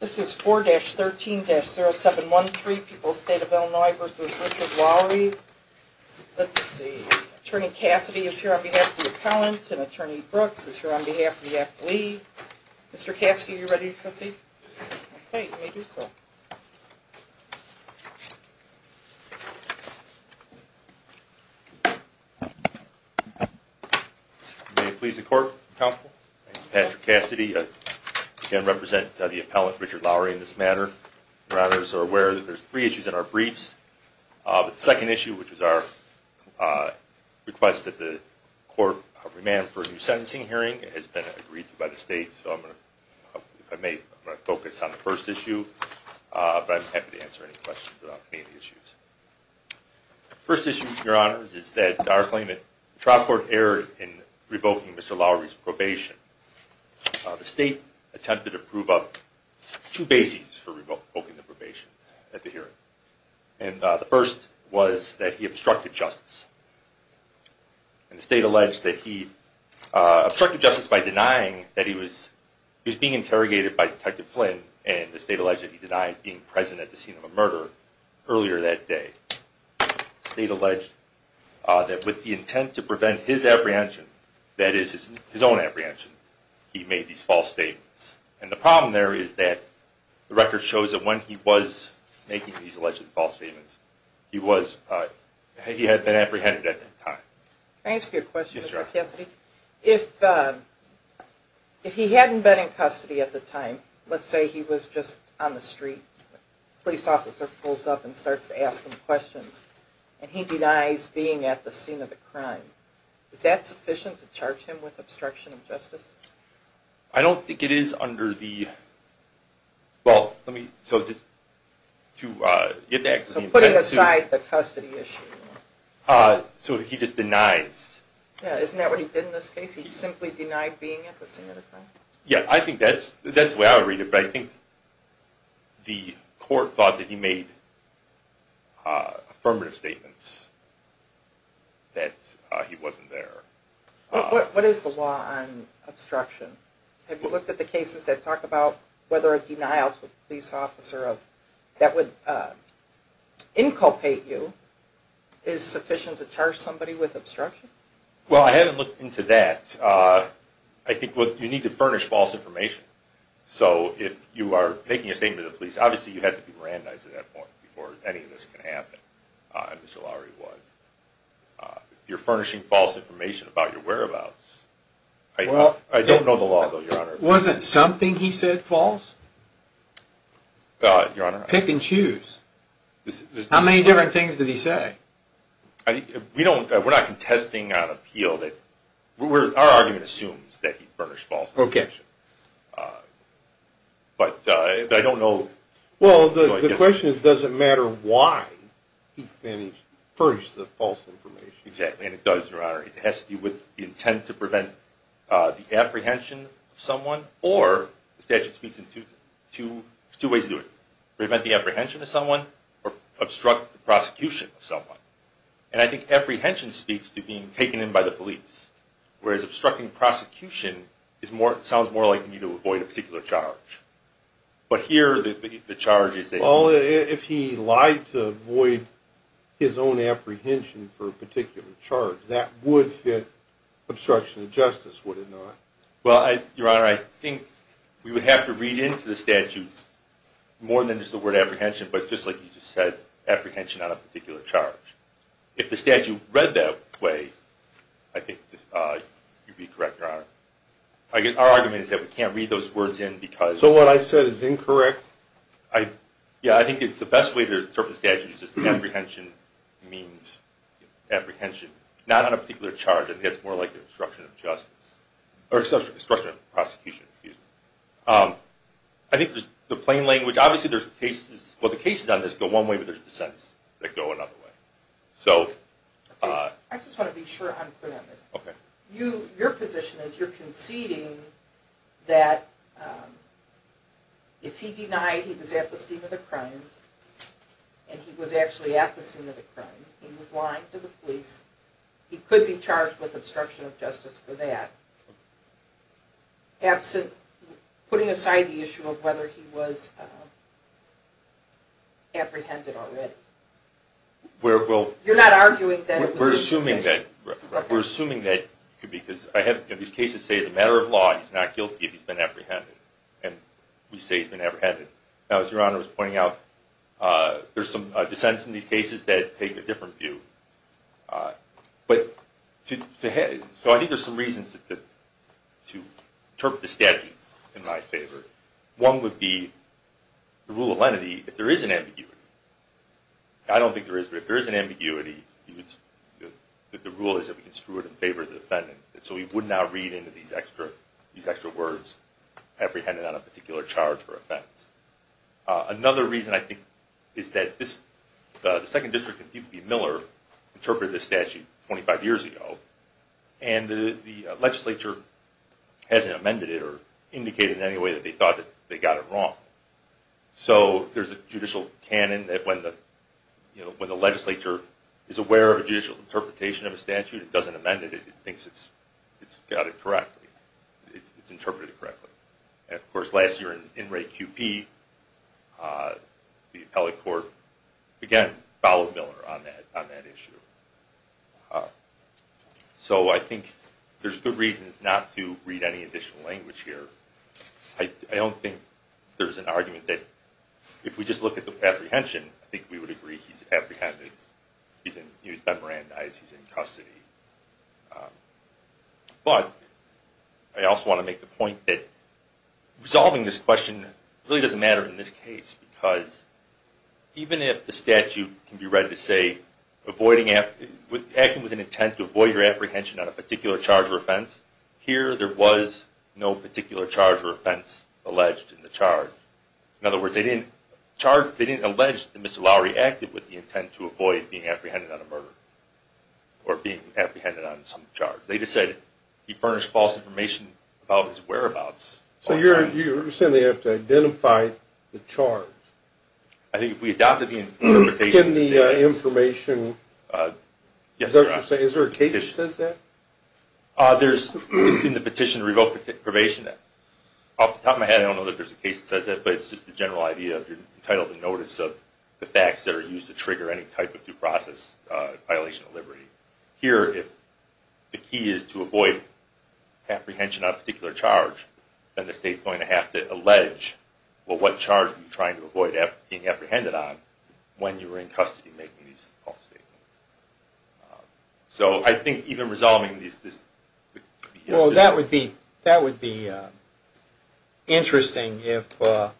This is 4-13-0713, People's State of Illinois v. Richard Lawory. Let's see, Attorney Cassidy is here on behalf of the appellant and Attorney Brooks is here on behalf of the athlete. Mr. Cassidy, are you ready to proceed? Okay, let me do so. May it please the Court, Counsel? Thank you, Patrick Cassidy. I again represent the appellant, Richard Lawory, in this matter. Your Honors are aware that there are three issues in our briefs. The second issue, which is our request that the Court remand for a new sentencing hearing, has been agreed to by the State, so I'm going to, if I may, I'm going to focus on the first issue, but I'm happy to answer any questions about any issues. The first issue, Your Honors, is that our claim that the trial court erred in revoking Mr. Lawory's probation. The State attempted to prove up two bases for revoking the probation at the hearing, and the first was that he obstructed justice. And the State alleged that he obstructed justice by denying that he was being interrogated by Detective Flynn, and the State alleged that he denied being present at the scene of a murder earlier that day. The State alleged that with the intent to prevent his apprehension, that is, his own apprehension, he made these false statements. And the problem there is that the record shows that when he was making these alleged false statements, he had been apprehended at that time. Can I ask you a question, Mr. Cassidy? Yes, Your Honor. If he hadn't been in custody at the time, let's say he was just on the street, a police officer pulls up and starts to ask him questions, and he denies being at the scene of a crime, is that sufficient to charge him with obstruction of justice? I don't think it is under the, well, let me, so just to get the explanation. So putting aside the custody issue. So he just denies. Yeah, isn't that what he did in this case? He simply denied being at the scene of the crime? Yeah, I think that's the way I would read it, but I think the court thought that he made affirmative statements that he wasn't there. What is the law on obstruction? Have you looked at the cases that talk about whether a denial to a police officer that would inculpate you is sufficient to charge somebody with obstruction? Well, I haven't looked into that. I think you need to furnish false information. So if you are making a statement to the police, obviously you have to be Mirandized at that point before any of this can happen, and Mr. Lowry was. You're furnishing false information about your whereabouts. I don't know the law, though, Your Honor. Wasn't something he said false? Your Honor. Pick and choose. How many different things did he say? We don't, we're not contesting an appeal that, our argument assumes that he furnished false information. Okay. But I don't know. Well, the question is, does it matter why he furnished the false information? Exactly, and it does, Your Honor. It has to be with the intent to prevent the apprehension of someone, or the statute speaks in two ways to do it. Prevent the apprehension of someone, or obstruct the prosecution of someone. And I think apprehension speaks to being taken in by the police, whereas obstructing prosecution sounds more like you need to avoid a particular charge. But here, the charge is that... Well, if he lied to avoid his own apprehension for a particular charge, that would fit obstruction of justice, would it not? Well, Your Honor, I think we would have to read into the statute more than just the word apprehension, but just like you just said, apprehension on a particular charge. If the statute read that way, I think you'd be correct, Your Honor. Our argument is that we can't read those words in because... So what I said is incorrect? Yeah, I think the best way to interpret the statute is that apprehension means apprehension, not on a particular charge. I think that's more like obstruction of justice, or obstruction of prosecution, excuse me. I think the plain language... Obviously, there's cases... Well, the cases on this go one way, but there's dissents that go another way. I just want to be sure I'm clear on this. Okay. Your position is you're conceding that if he denied he was at the scene of the crime, and he was actually at the scene of the crime, he was lying to the police, he could be charged with obstruction of justice for that, putting aside the issue of whether he was apprehended already. You're not arguing that... We're assuming that... We're assuming that because I have... These cases say it's a matter of law, he's not guilty if he's been apprehended, and we say he's been apprehended. Now, as Your Honor was pointing out, there's some dissents in these cases that take a different view. So I think there's some reasons to interpret the statute in my favor. One would be the rule of lenity, if there is an ambiguity. I don't think there is, but if there is an ambiguity, the rule is that we can screw it in favor of the defendant. So we would not read into these extra words, apprehended on a particular charge or offense. Another reason, I think, is that this... Miller interpreted this statute 25 years ago, and the legislature hasn't amended it or indicated in any way that they thought that they got it wrong. So there's a judicial canon that when the legislature is aware of a judicial interpretation of a statute, it doesn't amend it, it thinks it's got it correctly, it's interpreted correctly. And of course, last year in Wray QP, the appellate court, again, followed Miller on that issue. So I think there's good reasons not to read any additional language here. I don't think there's an argument that if we just look at the apprehension, I think we would agree he's apprehended. He was memorandized, he's in custody. But I also want to make the point that resolving this question really doesn't matter in this case, because even if the statute can be read to say, acting with an intent to avoid your apprehension on a particular charge or offense, here there was no particular charge or offense alleged in the charge. In other words, they didn't allege that Mr. Lowery acted with the intent to avoid being apprehended on a murder, or being apprehended on some charge. They just said he furnished false information about his whereabouts. So you're saying they have to identify the charge? I think if we adopt the interpretation of the statute... Can the information... is there a case that says that? There's in the petition to revoke the probation act. Off the top of my head, I don't know that there's a case that says that, but it's just the general idea that you're entitled to notice of the facts that are used to trigger any type of due process violation of liberty. Here, if the key is to avoid apprehension on a particular charge, then the state's going to have to allege, well, what charge were you trying to avoid being apprehended on when you were in custody making these false statements. So I think even resolving this... Well, that would be interesting if the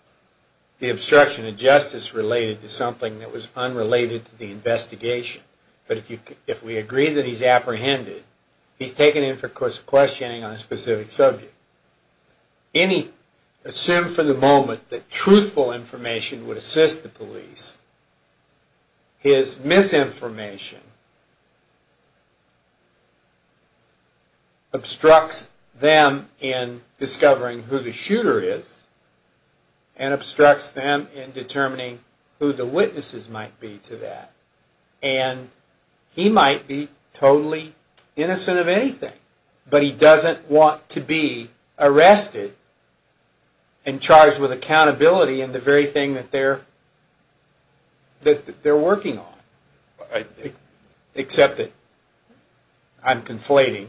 obstruction of justice related to something that was unrelated to the investigation. But if we agree that he's apprehended, he's taken in for questioning on a specific subject. Any... assume for the moment that truthful information would assist the police. His misinformation obstructs them in discovering who the shooter is, and obstructs them in determining who the witnesses might be to that. And he might be totally innocent of anything, but he doesn't want to be arrested and charged with accountability and the very thing that they're working on. Except that I'm conflating.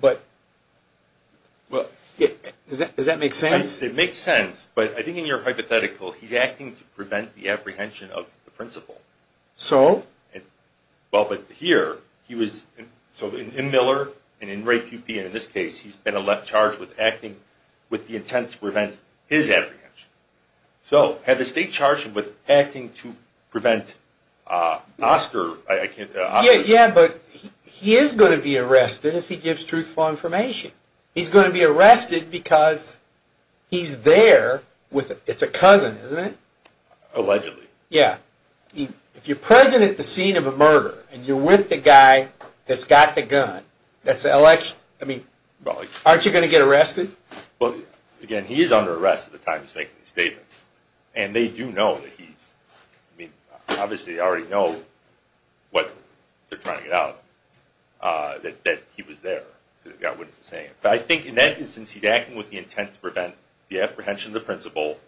But does that make sense? It makes sense, but I think in your hypothetical, he's acting to prevent the apprehension of the principal. So? Well, but here, he was... In Miller, and in Ray Kupi, and in this case, he's been charged with acting with the intent to prevent his apprehension. So, had the state charged him with acting to prevent Oscar... Yeah, but he is going to be arrested if he gives truthful information. He's going to be arrested because he's there with... it's a cousin, isn't it? Allegedly. Yeah. If you're present at the scene of a murder, and you're with the guy that's got the gun, that's an election... I mean, aren't you going to get arrested? Well, again, he is under arrest at the time he's making these statements. And they do know that he's... I mean, obviously they already know what they're trying to get out, that he was there, that he got what he was saying. But I think in that instance, he's acting with the intent to prevent the apprehension of the principal,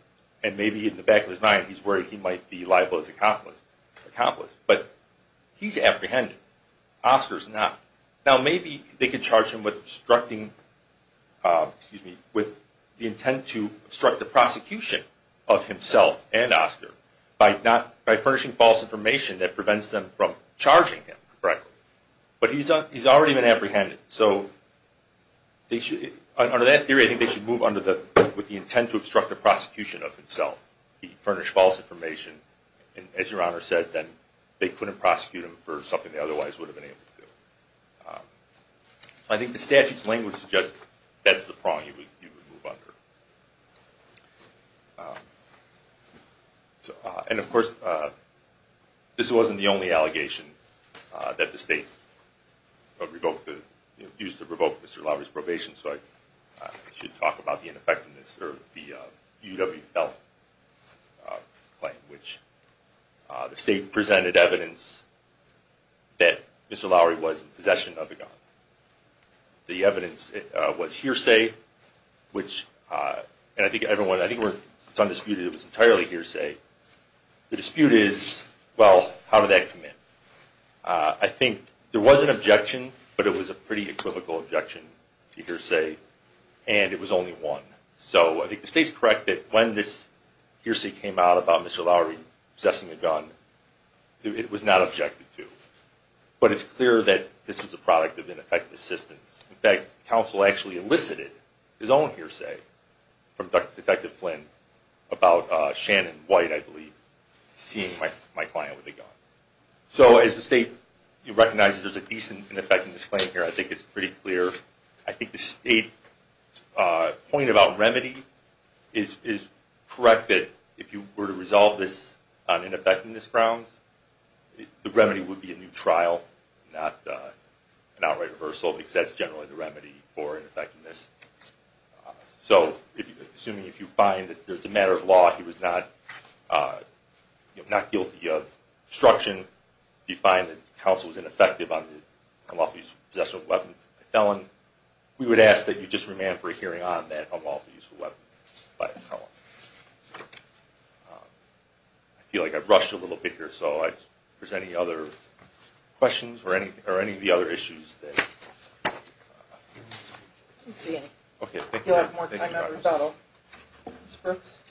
and maybe in the back of his mind, he's worried he might be liable as an accomplice. But he's apprehended. Oscar's not. Now, maybe they could charge him with obstructing... excuse me... with the intent to obstruct the prosecution of himself and Oscar by furnishing false information that prevents them from charging him correctly. But he's already been apprehended. So under that theory, I think they should move under the... with the intent to obstruct the prosecution of himself. He furnished false information, and as Your Honor said, then they couldn't prosecute him for something they otherwise would have been able to. I think the statute's language suggests that's the prong you would move under. And of course, this wasn't the only allegation that the state used to revoke Mr. Lowery's probation. So I should talk about the ineffectiveness of the UW-Felton claim, which the state presented evidence that Mr. Lowery was in possession of a gun. The evidence was hearsay, which... and I think everyone... I think it's undisputed it was entirely hearsay. The dispute is, well, how did that come in? I think there was an objection, but it was a pretty equivocal objection to hearsay, and it was only one. So I think the state's correct that when this hearsay came out about Mr. Lowery possessing a gun, it was not objected to. But it's clear that this was a product of ineffective assistance. In fact, counsel actually elicited his own hearsay from Detective Flynn about Shannon White, I believe, seeing my client with a gun. So as the state recognizes there's a decent ineffectiveness claim here, I think it's pretty clear. I think the state's point about remedy is correct that if you were to resolve this on ineffectiveness grounds, the remedy would be a new trial, not an outright reversal, because that's generally the remedy for ineffectiveness. So assuming if you find that there's a matter of law, he was not guilty of obstruction, you find that counsel was ineffective on the unlawful use of a weapon by a felon, we would ask that you just remand for a hearing on that unlawful use of a weapon by a felon. I feel like I've rushed a little bit here, so if there's any other questions or any of the other issues that... I don't see any. Okay, thank you. We'll have more time after the rebuttal. Ms. Brooks?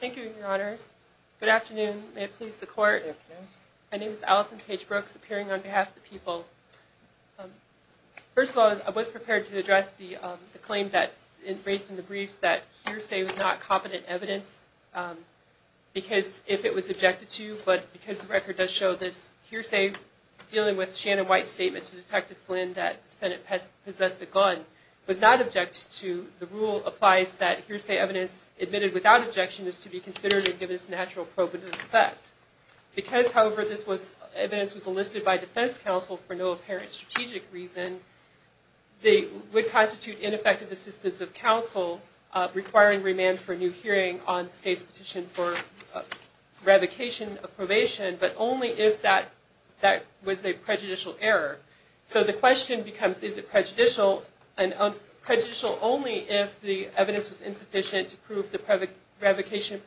Thank you, Your Honors. Good afternoon. May it please the Court. Good afternoon. My name is Allison Paige Brooks, appearing on behalf of the people. First of all, I was prepared to address the claim that was raised in the briefs that hearsay was not competent evidence, because if it was objected to, but because the record does show this hearsay, dealing with Shannon White's statement to Detective Flynn that the defendant possessed a gun, was not objected to, the rule applies that hearsay evidence admitted without objection is to be considered and given its natural probative effect. Because, however, this evidence was enlisted by defense counsel for no apparent strategic reason, they would constitute ineffective assistance of counsel requiring remand for a new hearing on the state's petition for revocation of probation, but only if that was a prejudicial error. So the question becomes, is it prejudicial, and prejudicial only if the evidence was insufficient to prove the allegation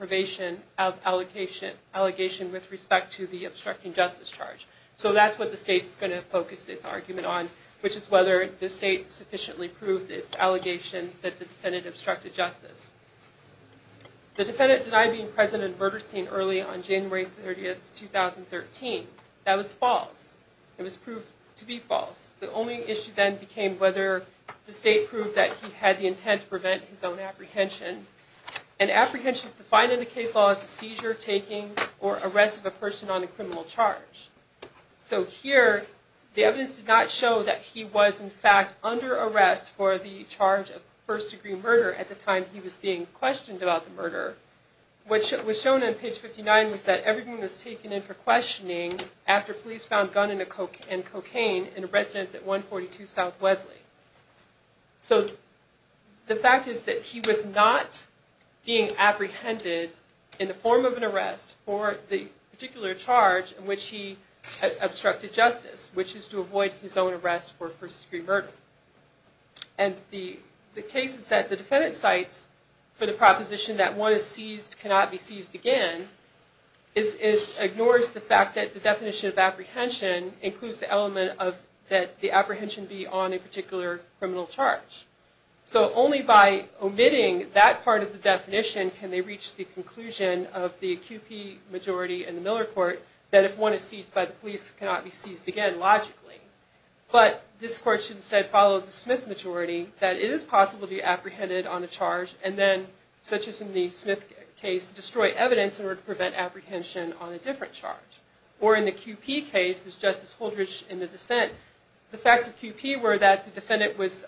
with respect to the obstructing justice charge. So that's what the state's going to focus its argument on, which is whether the state sufficiently proved its allegation that the defendant obstructed justice. The defendant denied being present at a murder scene early on January 30, 2013. That was false. It was proved to be false. The only issue then became whether the state proved that he had the intent to prevent his own apprehension. And apprehension is defined in the case law as a seizure, taking, or arrest of a person on a criminal charge. So here, the evidence did not show that he was, in fact, under arrest for the charge of first-degree murder at the time he was being questioned about the murder. What was shown on page 59 was that everything was taken in for questioning after police found gun and cocaine in a residence at 142 South Wesley. So the fact is that he was not being apprehended in the form of an arrest for the particular charge in which he obstructed justice, which is to avoid his own arrest for first-degree murder. And the case is that the defendant cites for the proposition that one is seized, cannot be seized again, ignores the fact that the definition of apprehension includes the element of that the apprehension be on a particular criminal charge. So only by omitting that part of the definition can they reach the conclusion of the QP majority in the Miller Court that if one is seized by the police, cannot be seized again, logically. But this court should instead follow the Smith majority that it is possible to be apprehended on a charge and then, such as in the Smith case, destroy evidence in order to prevent apprehension on a different charge. Or in the QP case, as Justice Holdridge in the dissent, the facts of QP were that the defendant was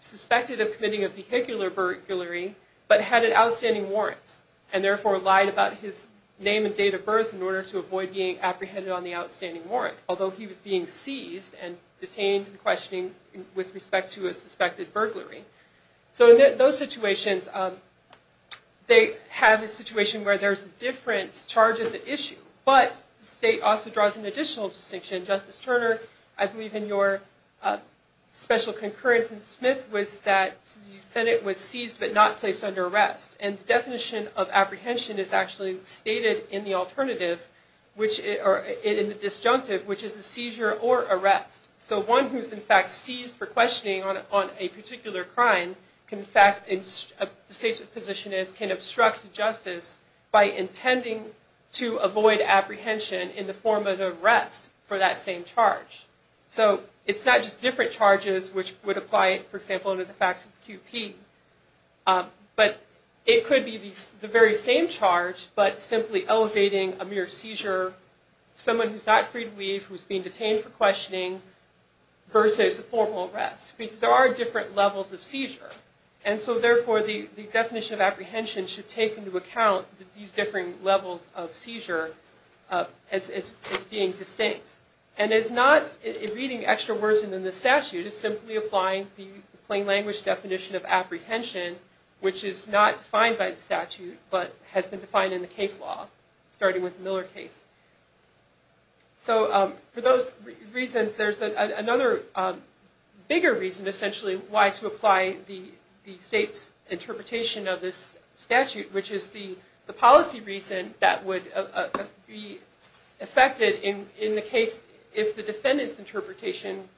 suspected of committing a vehicular burglary, but had an outstanding warrants, and therefore lied about his name and date of birth in order to avoid being apprehended on the outstanding warrants, although he was being seized and detained in questioning with respect to a suspected burglary. So in those situations, they have a situation where there's different charges at issue, but the state also draws an additional distinction. Justice Turner, I believe in your special concurrence in Smith was that the defendant was seized, but not placed under arrest. And the definition of apprehension is actually stated in the alternative, or in the disjunctive, which is a seizure or arrest. So one who's in fact seized for questioning on a particular crime can in fact, the state's position is, can obstruct justice by intending to avoid apprehension in the form of an arrest for that same charge. So it's not just different charges which would apply, for example, under the facts of QP, but it could be the very same charge, but simply elevating a mere seizure, someone who's not free to leave, who's being detained for questioning, versus a formal arrest. Because there are different levels of seizure. And so therefore, the definition of apprehension should take into account these different levels of seizure as being distinct. And it's not reading extra words in the statute. It's simply applying the plain language definition of apprehension, which is not defined by the statute, but has been defined in the case law, starting with the Miller case. So for those reasons, there's another bigger reason, essentially, why to apply the state's interpretation of this statute, which is the policy reason that would be affected in the case if the defendant's interpretation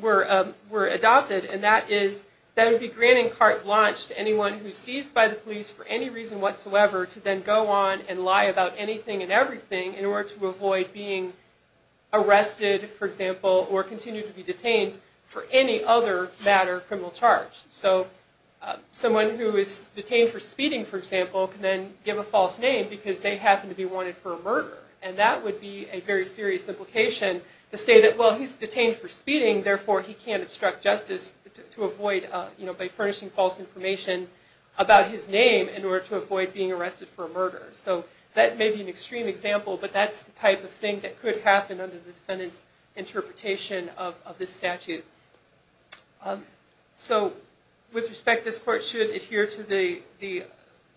were adopted. And that is, that would be grand and carte blanche to anyone who's seized by the police for any reason whatsoever to then go on and lie about anything and everything in order to avoid being arrested, for example, or continue to be detained for any other matter of criminal charge. So someone who is detained for speeding, for example, can then give a false name because they happen to be wanted for a murder. And that would be a very serious implication to say that, well, he's detained for speeding, So that may be an extreme example, but that's the type of thing that could happen under the defendant's interpretation of this statute. So with respect, this court should adhere to the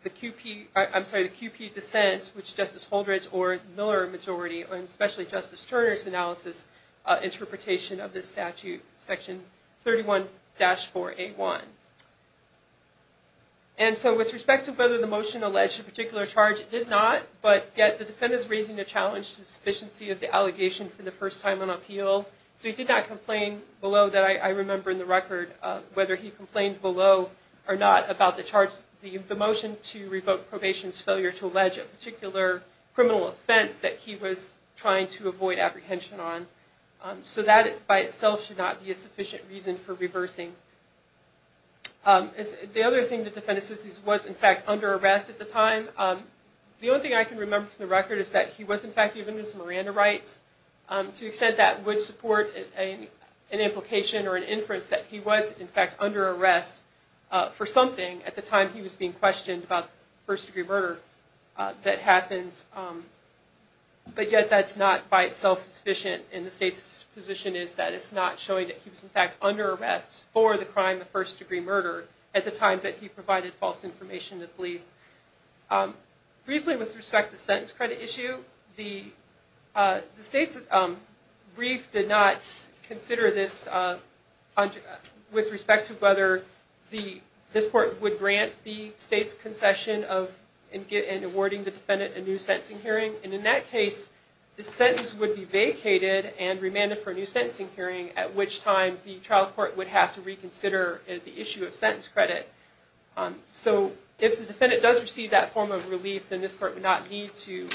QP dissent, which Justice Holdred or the Miller majority, and especially Justice Turner's analysis, interpretation of this statute, section 31-4A1. And so with respect to whether the motion alleged a particular charge, it did not, but yet the defendant is raising the challenge to the sufficiency of the allegation for the first time on appeal. So he did not complain below, that I remember in the record, whether he complained below or not about the charge, the motion to revoke probation's failure to allege a particular criminal offense that he was trying to avoid apprehension on. So that, by itself, should not be a sufficient reason for reversing. The other thing that the defendant says he was, in fact, under arrest at the time, the only thing I can remember from the record is that he was, in fact, even with Miranda rights. To the extent that would support an implication or an inference that he was, in fact, under arrest for something, at the time he was being questioned about first-degree murder, that happens. But yet that's not, by itself, sufficient. And the state's position is that it's not showing that he was, in fact, under arrest for the crime of first-degree murder at the time that he provided false information to police. Briefly, with respect to the sentence credit issue, the state's brief did not consider this with respect to whether this court would grant the state's concession in awarding the defendant a new sentencing hearing. And in that case, the sentence would be vacated and remanded for a new sentencing hearing, at which time the trial court would have to reconsider the issue of sentence credit. So if the defendant does receive that form of relief, then this court would not need to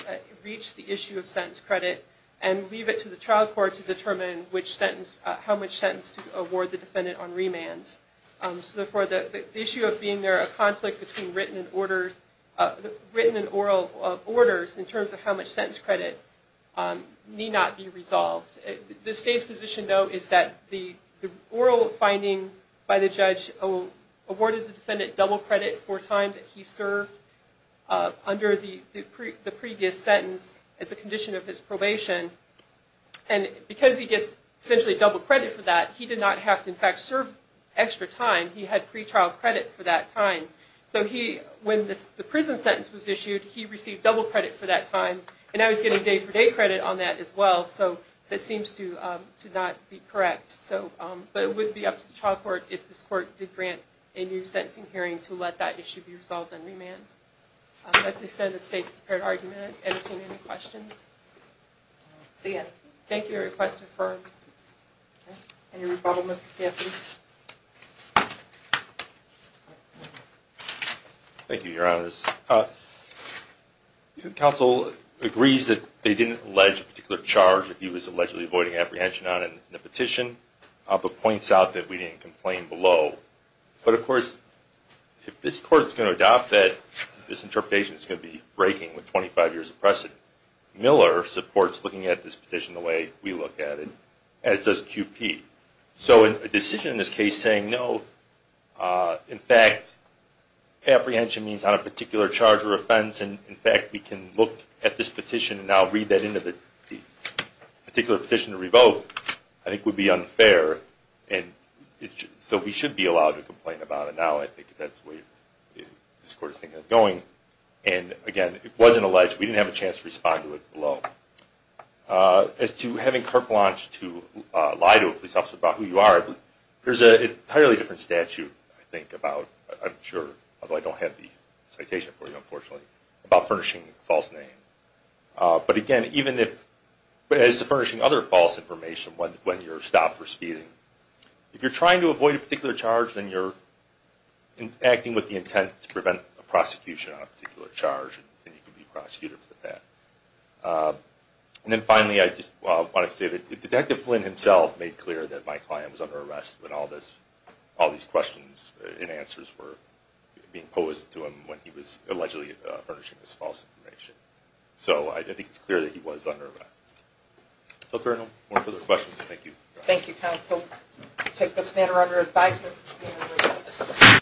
reach the issue of sentence credit and leave it to the trial court to determine how much sentence to award the defendant on remand. So therefore, the issue of being there, a conflict between written and oral orders, in terms of how much sentence credit, need not be resolved. The state's position, though, is that the oral finding by the judge awarded the defendant double credit for time that he served under the previous sentence as a condition of his probation. And because he gets essentially double credit for that, he did not have to in fact serve extra time. He had pre-trial credit for that time. So when the prison sentence was issued, he received double credit for that time, and now he's getting day-for-day credit on that as well. So that seems to not be correct. But it would be up to the trial court if this court did grant a new sentencing hearing to let that issue be resolved on remand. That's the extent of the state-prepared argument. Ed, do you have any questions? Thank you for your question. Any rebuttal, Mr. Caffey? Thank you, Your Honor. Counsel agrees that they didn't allege a particular charge that he was allegedly avoiding apprehension on in the petition, but points out that we didn't complain below. But, of course, if this court is going to adopt that, this interpretation is going to be breaking with 25 years of precedent. Miller supports looking at this petition the way we look at it, as does QP. So a decision in this case saying no, in fact, apprehension means on a particular charge or offense, and in fact we can look at this petition and now read that into the particular petition to revoke, I think would be unfair. So we should be allowed to complain about it now. I think that's the way this court is thinking of going. And, again, it wasn't alleged. We didn't have a chance to respond to it below. As to having Karpalanch to lie to a police officer about who you are, there's an entirely different statute, I think, about, I'm sure, although I don't have the citation for you, unfortunately, about furnishing a false name. But, again, as to furnishing other false information when you're stopped for speeding, if you're trying to avoid a particular charge, then you're acting with the intent to prevent a prosecution on a particular charge, and you can be prosecuted for that. And then, finally, I just want to say that Detective Flynn himself made clear that my client was under arrest when all these questions and answers were being posed to him when he was allegedly furnishing this false information. So I think it's clear that he was under arrest. No further questions? Thank you. Thank you, Counsel. We take this matter under advisement.